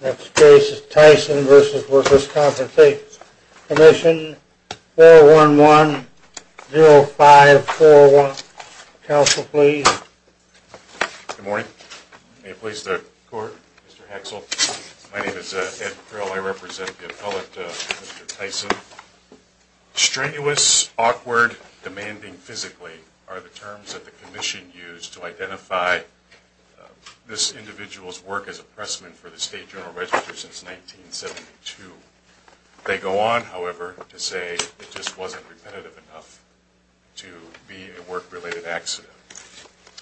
Next case is Tyson v. Workers' Compensation Comm'n. 411-0541. Counsel, please. Good morning. May it please the Court? Mr. Hexel, my name is Ed Pryl. I represent the appellate, Mr. Tyson. Strenuous, awkward, demanding physically are the terms that the Commission used to identify this individual's work as a pressman for the State General Register since 1972. They go on, however, to say it just wasn't repetitive enough to be a work-related accident.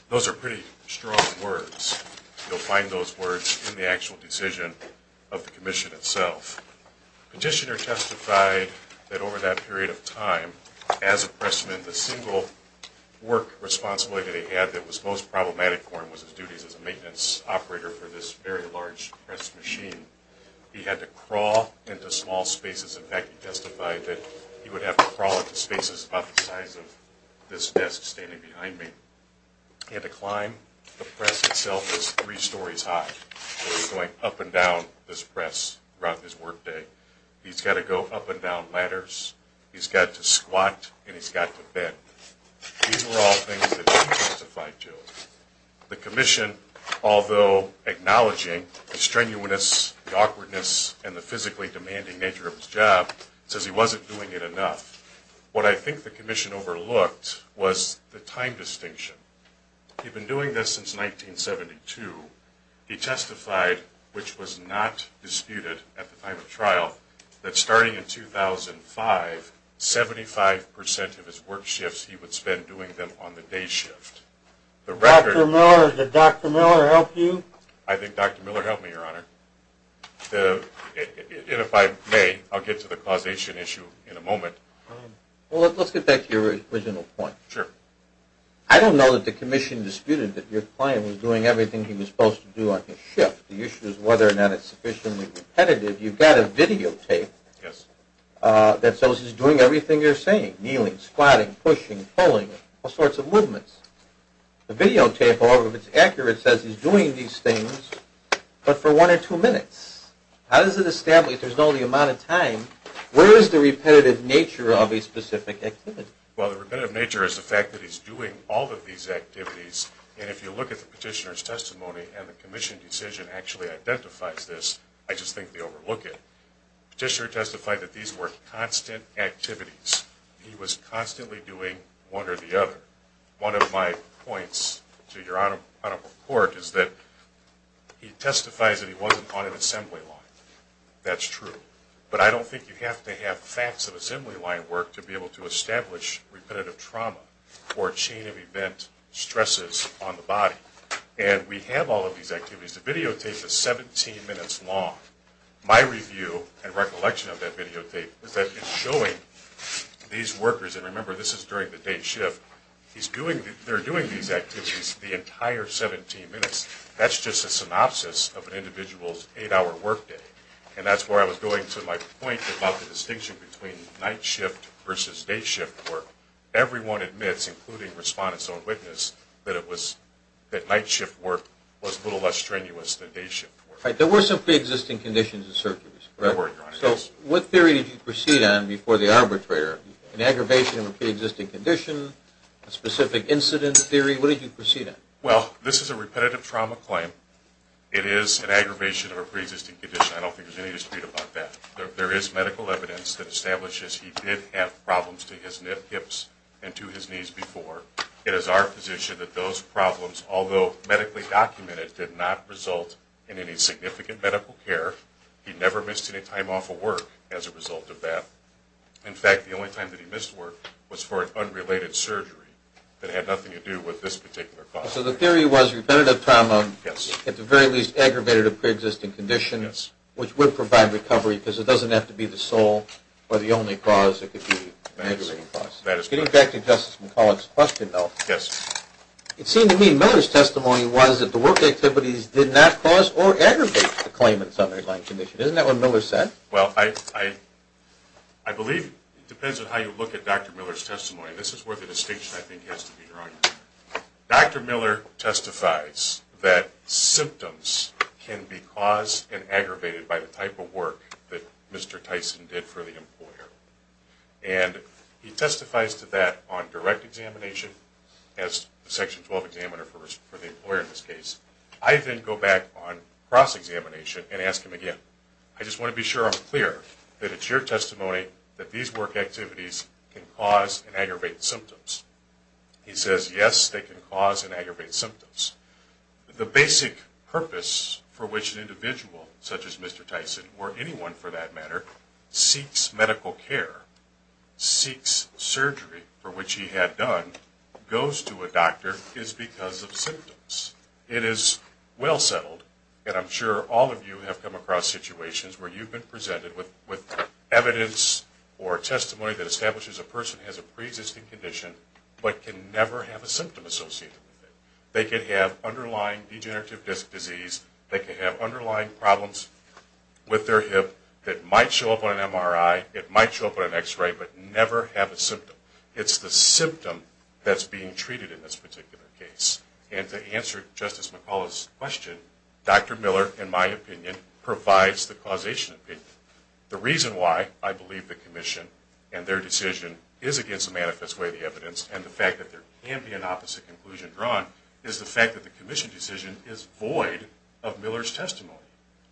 Those are pretty strong words. You'll find those words in the actual decision of the Commission itself. Petitioner testified that over that period of time, as a pressman, the single work responsibility that he had that was most problematic for him was his duties as a maintenance operator for this very large press machine. He had to crawl into small spaces. In fact, he testified that he would have to crawl into spaces about the size of this desk standing behind me. He had to climb. The press itself was three stories high. He was going up and down this press throughout his work day. He's got to go up and down ladders. He's got to squat, and he's got to bend. These were all things that he testified to. The Commission, although acknowledging the strenuousness, the awkwardness, and the physically demanding nature of his job, says he wasn't doing it enough. What I think the Commission overlooked was the time distinction. He'd been doing this since 1972. He testified, which was not disputed at the time of trial, that starting in 2005, 75% of his work shifts he would spend doing them on the day shift. Did Dr. Miller help you? I think Dr. Miller helped me, Your Honor. And if I may, I'll get to the causation issue in a moment. Well, let's get back to your original point. I don't know that the Commission disputed that your client was doing everything he was supposed to do on his shift. The issue is whether or not it's sufficiently repetitive. You've got a videotape that shows he's doing everything you're saying. Kneeling, squatting, pushing, pulling, all sorts of movements. The videotape, however, if it's accurate, says he's doing these things, but for one or two minutes. How does it establish, if there's only an amount of time, where is the repetitive nature of a specific activity? Well, the repetitive nature is the fact that he's doing all of these activities. And if you look at the petitioner's testimony, and the Commission decision actually identifies this, I just think they overlook it. The petitioner testified that these were constant activities. He was constantly doing one or the other. One of my points to your Honorable Court is that he testifies that he wasn't on an assembly line. That's true. But I don't think you have to have facts of assembly line work to be able to establish repetitive trauma or chain of event stresses on the body. And we have all of these activities. The videotape is 17 minutes long. My review and recollection of that videotape is that it's showing these workers, and remember this is during the day shift, they're doing these activities the entire 17 minutes. That's just a synopsis of an individual's eight-hour workday. And that's where I was going to my point about the distinction between night shift versus day shift work. Everyone admits, including respondents on witness, that night shift work was a little less strenuous than day shift work. There were some pre-existing conditions and surgeries. What theory did you proceed on before the arbitrator? An aggravation of a pre-existing condition? A specific incident theory? What did you proceed on? Well, this is a repetitive trauma claim. It is an aggravation of a pre-existing condition. I don't think there's any dispute about that. There is medical evidence that establishes he did have problems to his hips and to his knees before. It is our position that those problems, although medically documented, did not result in any significant medical care. He never missed any time off of work as a result of that. In fact, the only time that he missed work was for an unrelated surgery that had nothing to do with this particular cause. So the theory was repetitive trauma at the very least aggravated a pre-existing condition, which would provide recovery because it doesn't have to be the sole or the only cause. It could be an aggravating cause. Getting back to Justice McCullough's question though, it seemed to me Miller's testimony was that the work activities did not cause or aggravate the claimant's underlying condition. Isn't that what Miller said? Well, I believe it depends on how you look at Dr. Miller's testimony. This is where the distinction I think has to be drawn. Dr. Miller testifies that symptoms can be caused and aggravated by the type of work that Mr. Tyson did for the employer. And he testifies to that on direct examination as the Section 12 examiner for the employer in this case. I then go back on cross-examination and ask him again. I just want to be sure I'm clear that it's your testimony that these work activities can cause and aggravate symptoms. He says, yes, they can cause and aggravate symptoms. The basic purpose for which an individual such as Mr. Tyson, or anyone for that matter, seeks medical care, seeks surgery for which he had done, goes to a doctor is because of symptoms. It is well settled, and I'm sure all of you have come across situations where you've been presented with evidence or testimony that establishes a person has a pre-existing condition but can never have a symptom associated with it. They can have underlying degenerative disc disease. They can have underlying problems with their hip that might show up on an MRI. It might show up on an x-ray, but never have a symptom. It's the symptom that's being treated in this particular case. And to answer Justice McCullough's question, Dr. Miller, in my opinion, provides the causation opinion. The reason why I believe the Commission and their decision is against the manifest way of the evidence and the fact that there can be an opposite conclusion drawn is the fact that the Commission decision is void of Miller's testimony.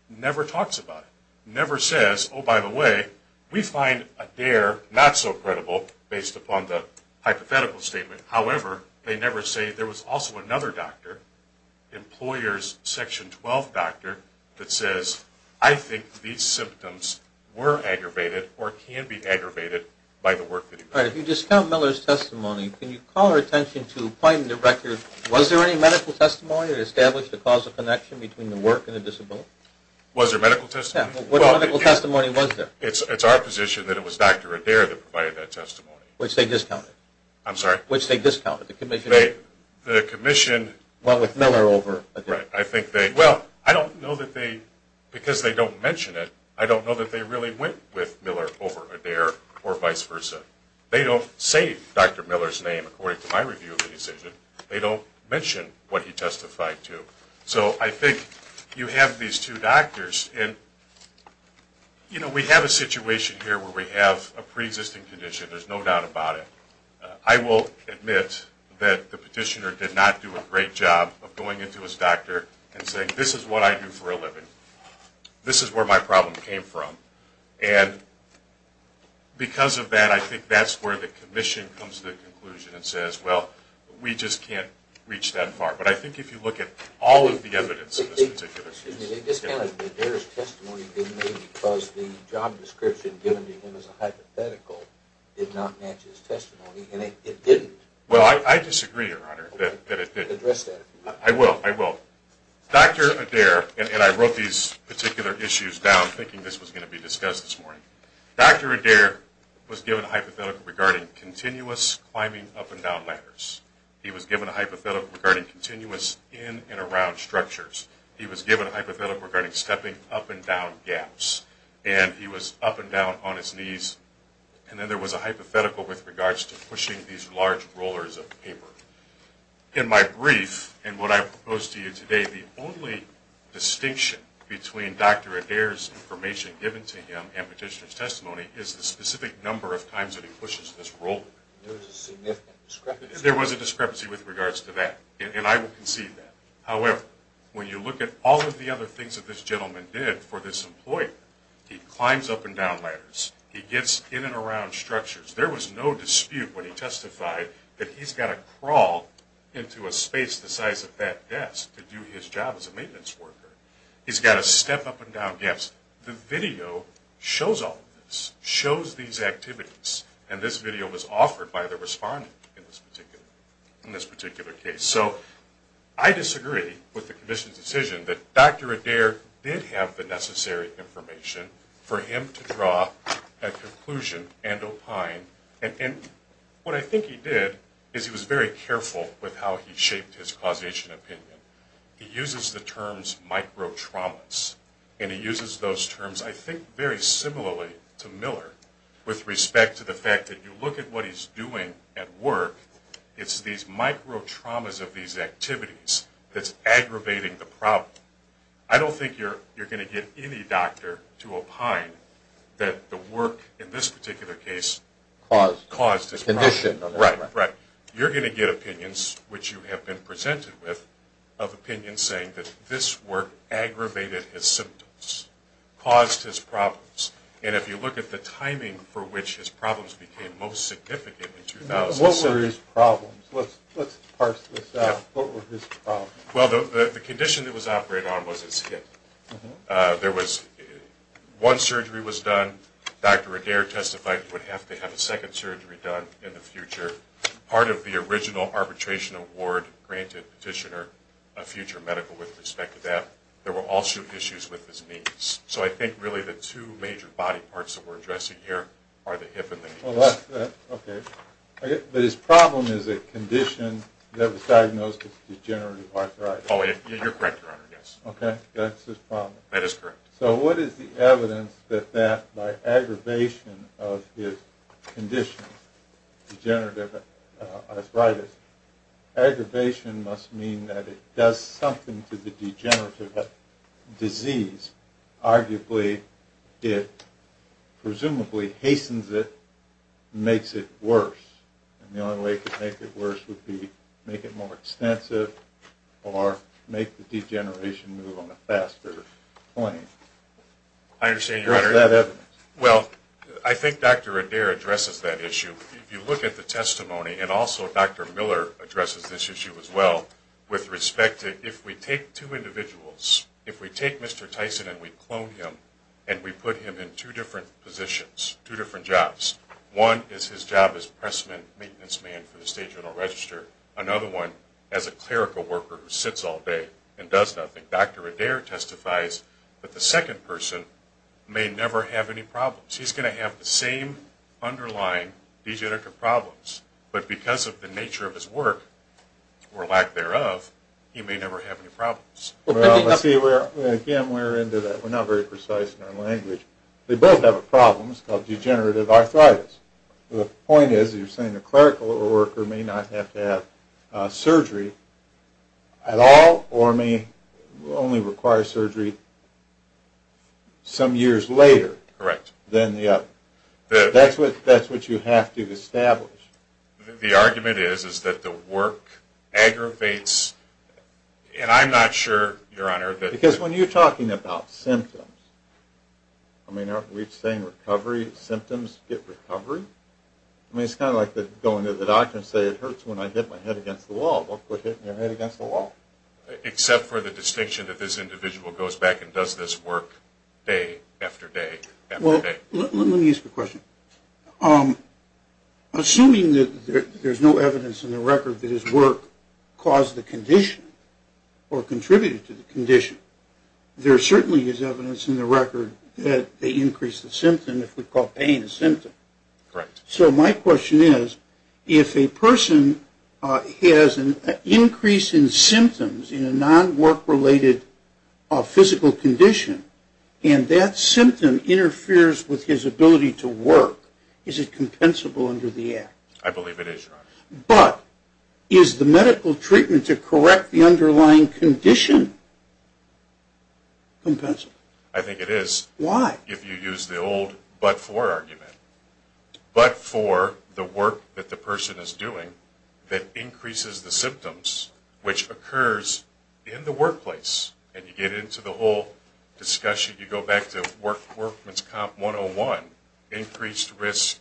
Never talks about it. Never says, oh, by the way, we find Adair not so credible based upon the hypothetical statement. However, they never say there was also another doctor, employer's Section 12 doctor, that says, I think these symptoms were aggravated or can be aggravated by the work that he did. All right. If you discount Miller's testimony, can you call our attention to find the record, was there any medical testimony that established the causal connection between the work and the disability? Was there medical testimony? What medical testimony was there? It's our position that it was Dr. Adair that provided that testimony. Which they discounted. I'm sorry? Which they discounted. The Commission. Went with Miller over Adair. Right. I think they, well, I don't know that they, because they don't mention it, I don't know that they really went with Miller over Adair or vice versa. They don't say Dr. Miller's name according to my review of the decision. They don't mention what he testified to. So I think you have these two doctors and, you know, we have a situation here where we have a pre-existing condition. There's no doubt about it. I will admit that the petitioner did not do a great job of going into his doctor and saying, this is what I do for a living. This is where my problem came from. And because of that, I think that's where the Commission comes to the conclusion and says, well, we just can't reach that far. But I think if you look at all of the evidence in this particular case. They discounted Adair's testimony because the job description given to him as a hypothetical did not match his testimony, and it didn't. Well, I disagree, Your Honor, that it didn't. I will, I will. Dr. Adair, and I wrote these particular issues down thinking this was going to be discussed this morning. Dr. Adair was given a hypothetical regarding continuous climbing up and down ladders. He was given a hypothetical regarding continuous in and around structures. He was given a hypothetical regarding stepping up and down gaps. And he was up and down on his knees. And then there was a hypothetical with regards to pushing these large rollers of paper. In my brief, and what I propose to you today, the only distinction between Dr. Adair's information given to him and petitioner's testimony is the specific number of times that he pushes this roller. There was a significant discrepancy. There was a discrepancy with regards to that, and I will concede that. However, when you look at all of the other things that this gentleman did for this employee, he climbs up and down ladders. He gets in and around structures. There was no dispute when he testified that he's got to crawl into a space the size of that desk to do his job as a maintenance worker. He's got to step up and down gaps. The video shows all of this, shows these activities, and this video was offered by the respondent in this particular case. So I disagree with the commission's decision that Dr. Adair did have the necessary information for him to draw a conclusion and opine. And what I think he did is he was very careful with how he shaped his causation opinion. He uses the terms microtraumas, and he uses those terms, I think, very similarly to Miller with respect to the fact that you look at what he's doing at work. It's these microtraumas of these activities that's aggravating the problem. I don't think you're going to get any doctor to opine that the work in this particular case caused his problem. You're going to get opinions, which you have been presented with, of opinions saying that this work aggravated his symptoms, caused his problems. And if you look at the timing for which his problems became most significant in 2007, what were his problems? Let's parse this out. What were his problems? Well, the condition that was operated on was his hip. One surgery was done. Dr. Adair testified he would have to have a second surgery done in the future. Part of the original arbitration award granted Petitioner a future medical with respect to that. There were also issues with his knees. So I think really the two major body parts that we're addressing here are the hip and the knees. Okay. But his problem is a condition that was diagnosed as degenerative arthritis. Oh, you're correct, Your Honor. Yes. Okay. That's his problem. That is correct. So what is the evidence that that, by aggravation of his condition, degenerative arthritis, aggravation must mean that it does something to the degenerative disease. Arguably, it presumably hastens it, makes it worse. And the only way it could make it worse would be make it more extensive or make the degeneration move on a faster plane. I understand, Your Honor. Where is that evidence? Well, I think Dr. Adair addresses that issue. If you look at the testimony, and also Dr. Miller addresses this issue as well, with respect to if we take two individuals, if we take Mr. Tyson and we clone him and we put him in two different positions, two different jobs. One is his job as pressman, maintenance man for the state general register. Another one as a clerical worker who sits all day and does nothing. Dr. Adair testifies that the second person may never have any problems. He's going to have the same underlying degenerative problems. But because of the nature of his work, or lack thereof, he may never have any problems. Again, we're into that. We're not very precise in our language. They both have problems called degenerative arthritis. The point is, you're saying a clerical worker may not have to have surgery at all or may only require surgery some years later than the other. That's what you have to establish. The argument is that the work aggravates, and I'm not sure, Your Honor, that... Because when you're talking about symptoms, I mean, are we saying recovery symptoms get recovery? I mean, it's kind of like going to the doctor and saying it hurts when I hit my head against the wall. Don't put your head against the wall. Except for the distinction that this individual goes back and does this work day after day after day. Let me ask you a question. Assuming that there's no evidence in the record that his work caused the condition or contributed to the condition, there certainly is evidence in the record that they increase the symptom if we call pain a symptom. So my question is, if a person has an increase in symptoms in a non-work-related physical condition and that symptom interferes with his ability to work, is it compensable under the act? I believe it is, Your Honor. But is the medical treatment to correct the underlying condition compensable? I think it is. Why? If you use the old but-for argument. But-for, the work that the person is doing that increases the symptoms, which occurs in the workplace, and you get into the whole discussion, you go back to Workman's Comp 101, increased risk,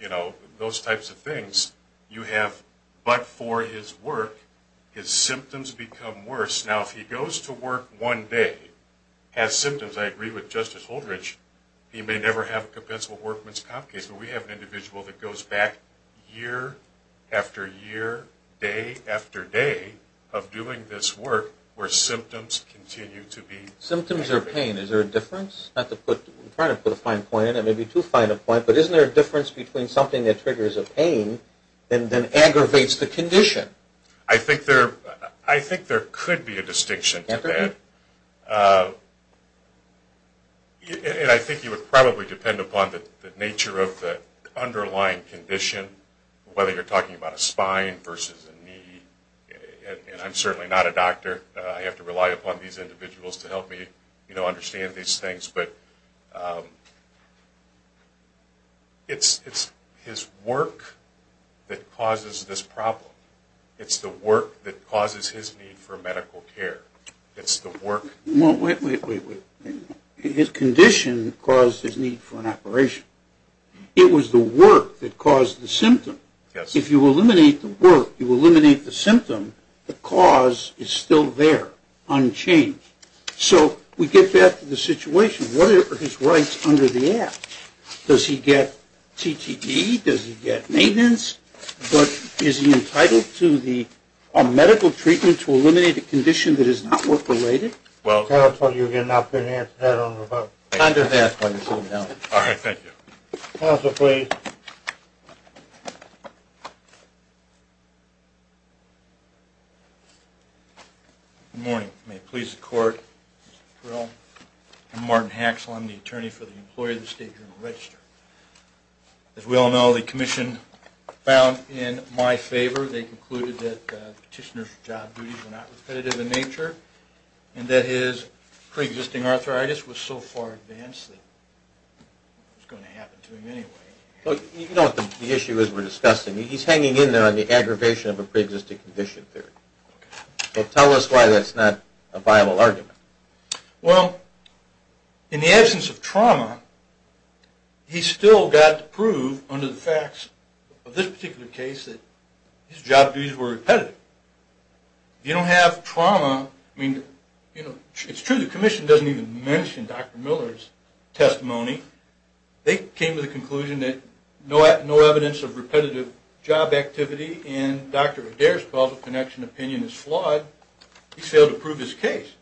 you know, those types of things, you have but-for his work, his symptoms become worse. Now if he goes to work one day, has symptoms, I agree with Justice Holdredge, he may never have a compensable Workman's Comp case. So we have an individual that goes back year after year, day after day, of doing this work where symptoms continue to be aggravated. Symptoms or pain, is there a difference? I'm trying to put a fine point in it, maybe too fine a point, but isn't there a difference between something that triggers a pain, and then aggravates the condition? I think there could be a distinction to that. And I think you would probably depend upon the nature of the underlying condition, whether you're talking about a spine versus a knee, and I'm certainly not a doctor, I have to rely upon these individuals to help me, you know, understand these things, but it's his work that causes this problem. It's the work that causes his need for medical care. It's the work... Wait, wait, wait. His condition caused his need for an operation. It was the work that caused the symptom. If you eliminate the work, you eliminate the symptom, the cause is still there, unchanged. So we get back to the situation. What are his rights under the Act? Does he get CTD? Does he get maintenance? But is he entitled to medical treatment to eliminate a condition that is not work-related? Well, counsel, you have not been answered that on the rebuttal. I'm going to ask why you're sitting down. All right, thank you. Counsel, please. Good morning. May it please the Court, Mr. Terrell. I'm Martin Haxel. I'm the attorney for the employee of the State Journal Register. As we all know, the Commission found in my favor, they concluded that the petitioner's job duties were not repetitive in nature and that his pre-existing arthritis was so far advanced that it was going to happen to him anyway. You know what the issue is we're discussing. He's hanging in there on the aggravation of a pre-existing condition theory. So tell us why that's not a viable argument. Well, in the absence of trauma, he still got to prove under the facts of this particular case that his job duties were repetitive. If you don't have trauma, I mean, you know, it's true the Commission doesn't even mention Dr. Miller's testimony. They came to the conclusion that no evidence of repetitive job activity in Dr. Adair's causal connection opinion is flawed. He failed to prove his case.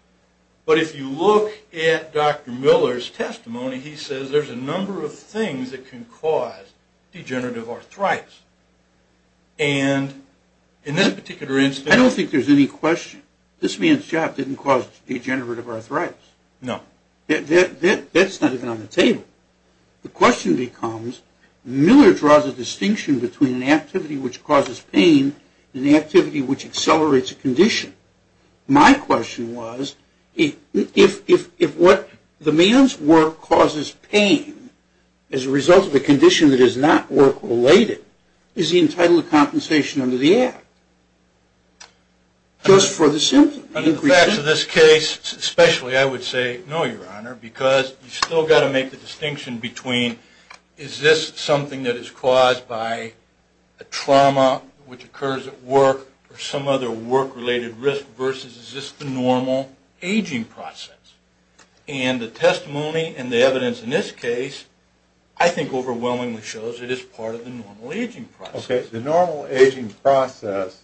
But if you look at Dr. Miller's testimony, he says there's a number of things that can cause degenerative arthritis. And in this particular instance... I don't think there's any question. This man's job didn't cause degenerative arthritis. No. That's not even on the table. The question becomes, Miller draws a distinction between an activity which causes pain and the activity which accelerates a condition. My question was, if what the man's work causes pain as a result of a condition that is not work-related, is he entitled to compensation under the Act? Just for the simple... Under the facts of this case, especially, I would say no, Your Honor, because you still got to make the distinction between, is this something that is caused by a trauma which occurs at work or some other work-related risk, versus is this the normal aging process? And the testimony and the evidence in this case, I think overwhelmingly shows it is part of the normal aging process. Okay. The normal aging process,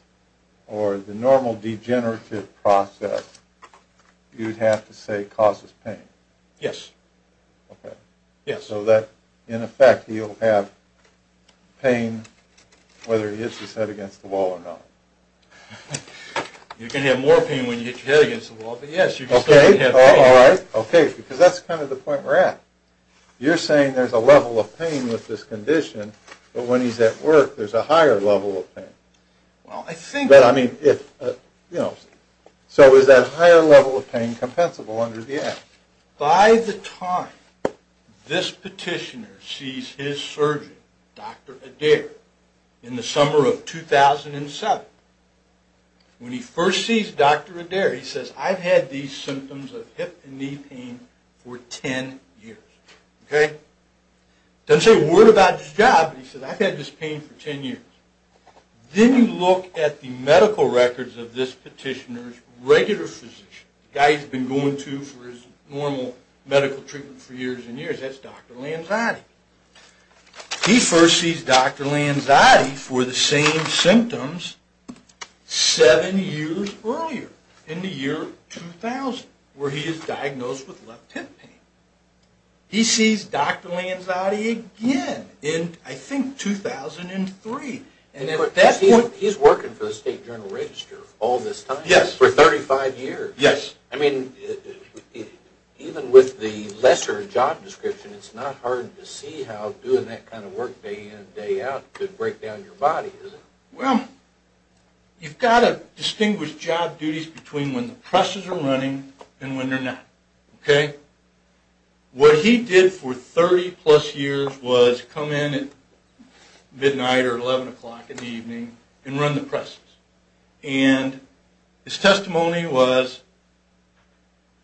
or the normal degenerative process, you'd have to say causes pain. Yes. Okay. So that, in effect, he'll have pain, whether he hits his head against the wall or not. You can have more pain when you hit your head against the wall, but yes, you can still have pain. Okay. Because that's kind of the point we're at. You're saying there's a level of pain with this condition, but when he's at work, there's a higher level of pain. Well, I think... So is that higher level of pain compensable under the Act? By the time this petitioner sees his surgeon, Dr. Adair, in the summer of 2007, when he first sees Dr. Adair, he says, I've had these symptoms of hip and knee pain for 10 years. Okay. Doesn't say a word about his job, but he says, I've had this pain for 10 years. Then you look at the medical records of this petitioner's regular physician, the guy he's been going to for his normal medical treatment for years and years. That's Dr. Lanzati. He first sees Dr. Lanzati for the same symptoms seven years earlier, in the year 2000, where he is diagnosed with left hip pain. He sees Dr. Lanzati again in, I think, 2003. He's working for the State Journal-Register all this time? Yes. For 35 years? Yes. I mean, even with the lesser job description, it's not hard to see how doing that kind of work day in and day out could break down your body, is it? You've got to distinguish job duties between when the presses are running and when they're not. Okay? What he did for 30 plus years was come in at midnight or 11 o'clock in the evening and run the presses. And his testimony was,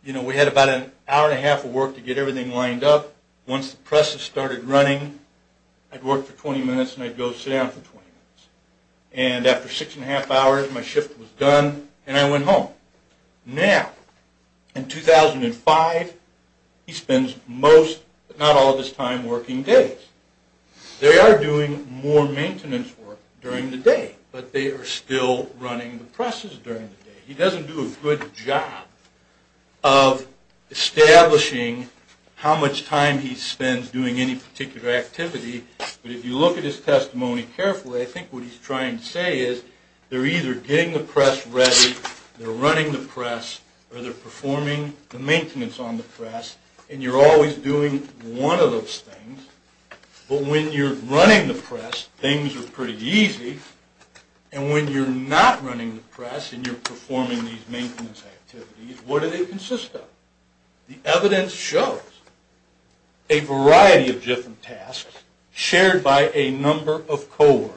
you know, we had about an hour and a half of work to get everything lined up. Once the presses started running, I'd work for 20 minutes and I'd go sit down for 20 minutes. And after six and a half hours, my shift was done, and I went home. Now, in 2005, he spends most, but not all of his time, working days. They are doing more maintenance work during the day, but they are still running the presses during the day. He doesn't do a good job of establishing how much time he spends doing any particular activity. But if you look at his testimony carefully, what he's trying to say is, they're either getting the press ready, they're running the press, or they're performing the maintenance on the press, and you're always doing one of those things. But when you're running the press, things are pretty easy. And when you're not running the press and you're performing these maintenance activities, what do they consist of? The evidence shows a variety of different tasks shared by a number of coworkers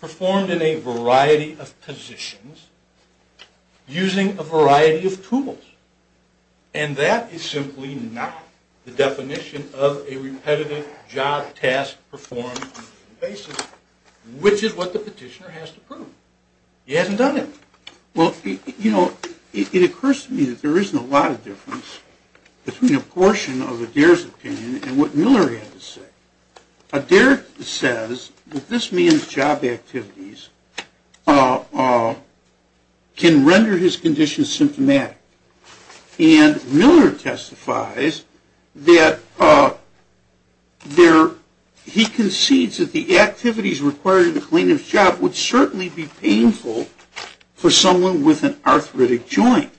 performed in a variety of positions using a variety of tools. And that is simply not the definition of a repetitive job task performed on a daily basis, which is what the petitioner has to prove. He hasn't done it. Well, it occurs to me that there isn't a lot of difference between a portion of Adair's opinion and what Miller had to say. Adair says that this man's job activities can render his condition symptomatic. And Miller testifies that he concedes that the activities required in a plaintiff's job would certainly be painful for someone with an arthritic joint.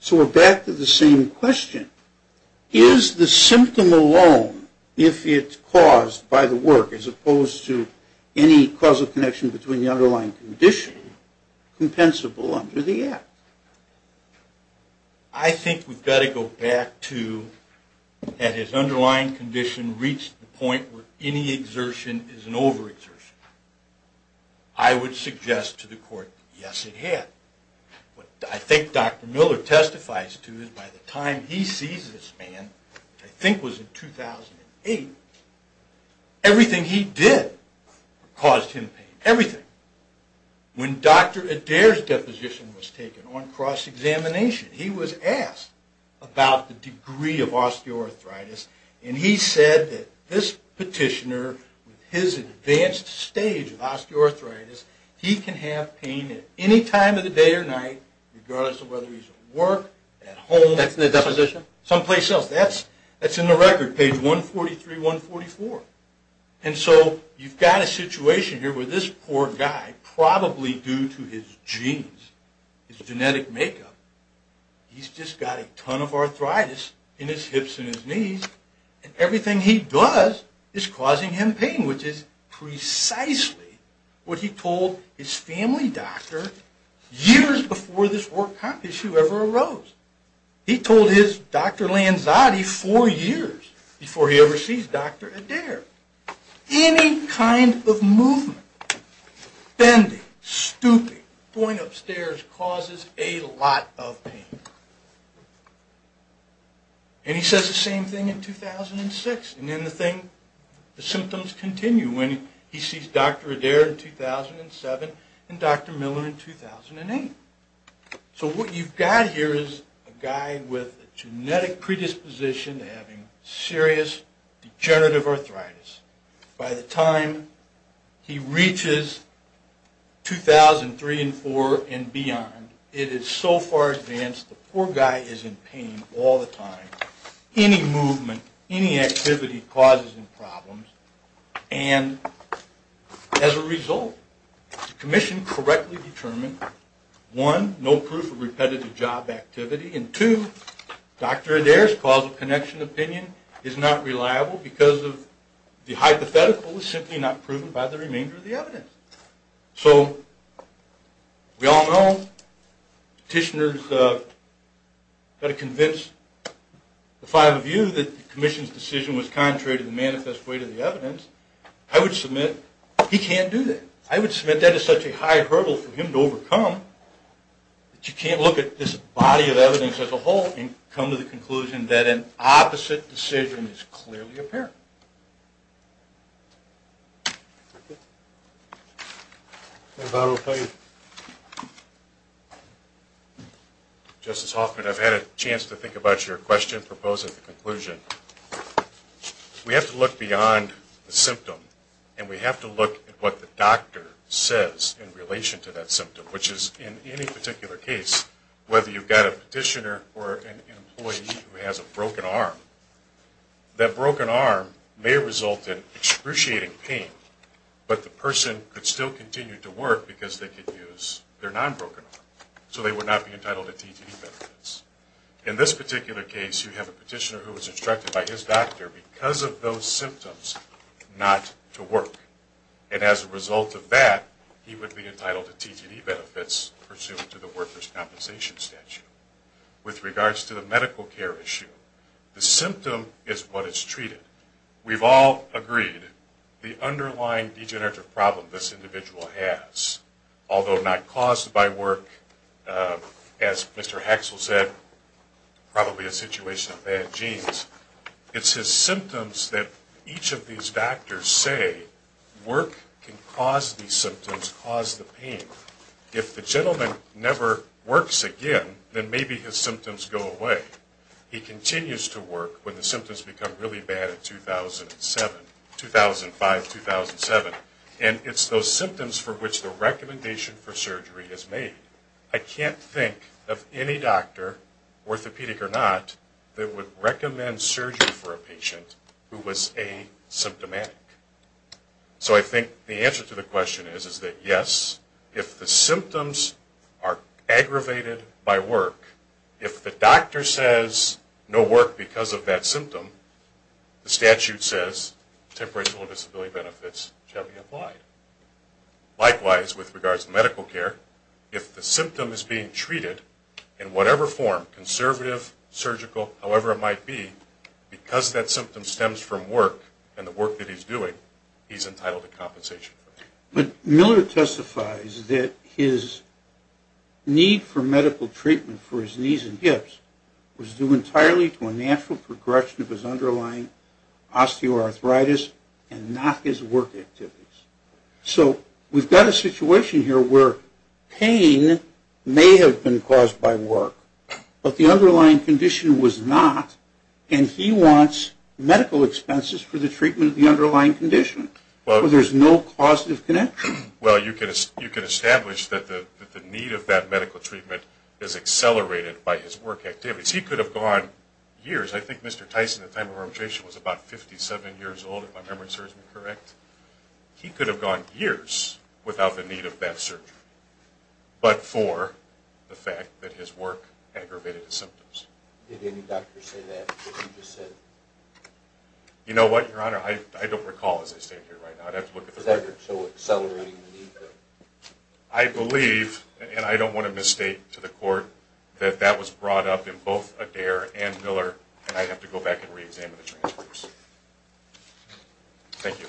So we're back to the same question. Is the symptom alone, if it's caused by the work, as opposed to any causal connection between the underlying condition compensable under the act? I think we've got to go back to had his underlying condition reached the point where any exertion is an overexertion. I would suggest to the court yes, it had. What I think Dr. Miller testifies to is by the time he sees this man, which I think was in 2008, everything he did caused him pain. Everything. When Dr. Adair's deposition was taken on cross-examination, he was asked about the degree of osteoarthritis, and he said that this petitioner, with his advanced stage of osteoarthritis, he can have pain at any time of the day or night, regardless of whether he's at work, at home, someplace else. That's in the record, page 143, 144. And so you've got a situation here where this poor guy, probably due to his genes, his genetic makeup, he's just got a ton of arthritis in his hips and his knees, and everything he does is causing him pain, which is precisely what he told his family doctor years before this work issue ever arose. He told his Dr. Lanzati four years before he ever sees Dr. Adair. Any kind of movement, bending, stooping, going upstairs, causes a lot of pain. And he says the same thing in 2006, and then the symptoms continue when he sees Dr. Adair in 2007 and Dr. Miller in 2008. So what you've got here is a guy with a genetic predisposition to having serious degenerative arthritis. By the time he reaches 2003 and 2004 and beyond, it is so far advanced the poor guy is in pain all the time. Any movement, any activity causes him problems. And as a result, the commission correctly determined, one, no proof of repetitive job activity, and two, Dr. Adair's causal connection opinion is not reliable because the hypothetical is simply not proven by the remainder of the evidence. So, we all know petitioners have got to convince the five of you that the commission's decision was contrary to the manifest weight of the evidence. I would submit he can't do that. I would submit that is such a high hurdle for him to overcome that you can't look at this body of evidence as a whole and come to the conclusion that an opposite decision is clearly apparent. Justice Hoffman, I've had a chance to think about your question proposing the conclusion. We have to look beyond the symptom and we have to look at what the doctor says in relation to that symptom, which is in any particular case, whether you've got a petitioner or an employee who has a broken arm, that broken arm may result in excruciating pain, but the person could still continue to work because they could use their non-broken arm, so they would not be entitled to TTE benefits. In this particular case, you have a petitioner who was instructed by his doctor because of those symptoms not to work, and as a result of that, he would be entitled to TTE benefits pursuant to the workers' compensation statute. With regards to the medical care issue, the symptom is what is treated. We've all agreed the underlying degenerative problem this individual has, although not caused by work, as Mr. Haxel said, probably a situation of bad genes, it's his symptoms that each of these doctors say work can cause these symptoms, cause the pain. If the gentleman never works again, then maybe his symptoms go away. He continues to work when the symptoms become really bad in 2007, 2005, 2007, and it's those symptoms for which the recommendation for surgery is made. I can't think of any doctor, orthopedic or not, that would recommend surgery for a patient who was asymptomatic. So I think the answer to the question is that yes, if the symptoms are aggravated by work, if the doctor says no work because of that symptom, the statute says temporary disability benefits shall be applied. Likewise, with regards to medical care, if the symptom is being treated in whatever form, conservative, surgical, however it might be, because that symptom stems from work and the work that he's doing, he's entitled to compensation. But Miller testifies that his need for medical treatment for his knees and hips was due entirely to a natural progression of his underlying osteoarthritis and not his work activities. So we've got a situation here where pain may have been caused by work, but the underlying condition was not, and he wants medical expenses for the treatment of the underlying condition. So there's no causative connection. Well, you can establish that the need of that medical treatment is accelerated by his work activities. He could have gone years, I think Mr. Tyson at the time of his arbitration was about 57 years old if my memory serves me correct, he could have gone years without the need of that surgery, but for the fact that his work accelerated by his work, I don't want to misstate to the court that that was brought up in both Adair and Miller, and I'd have to go back and reexamine the transcripts. Thank you.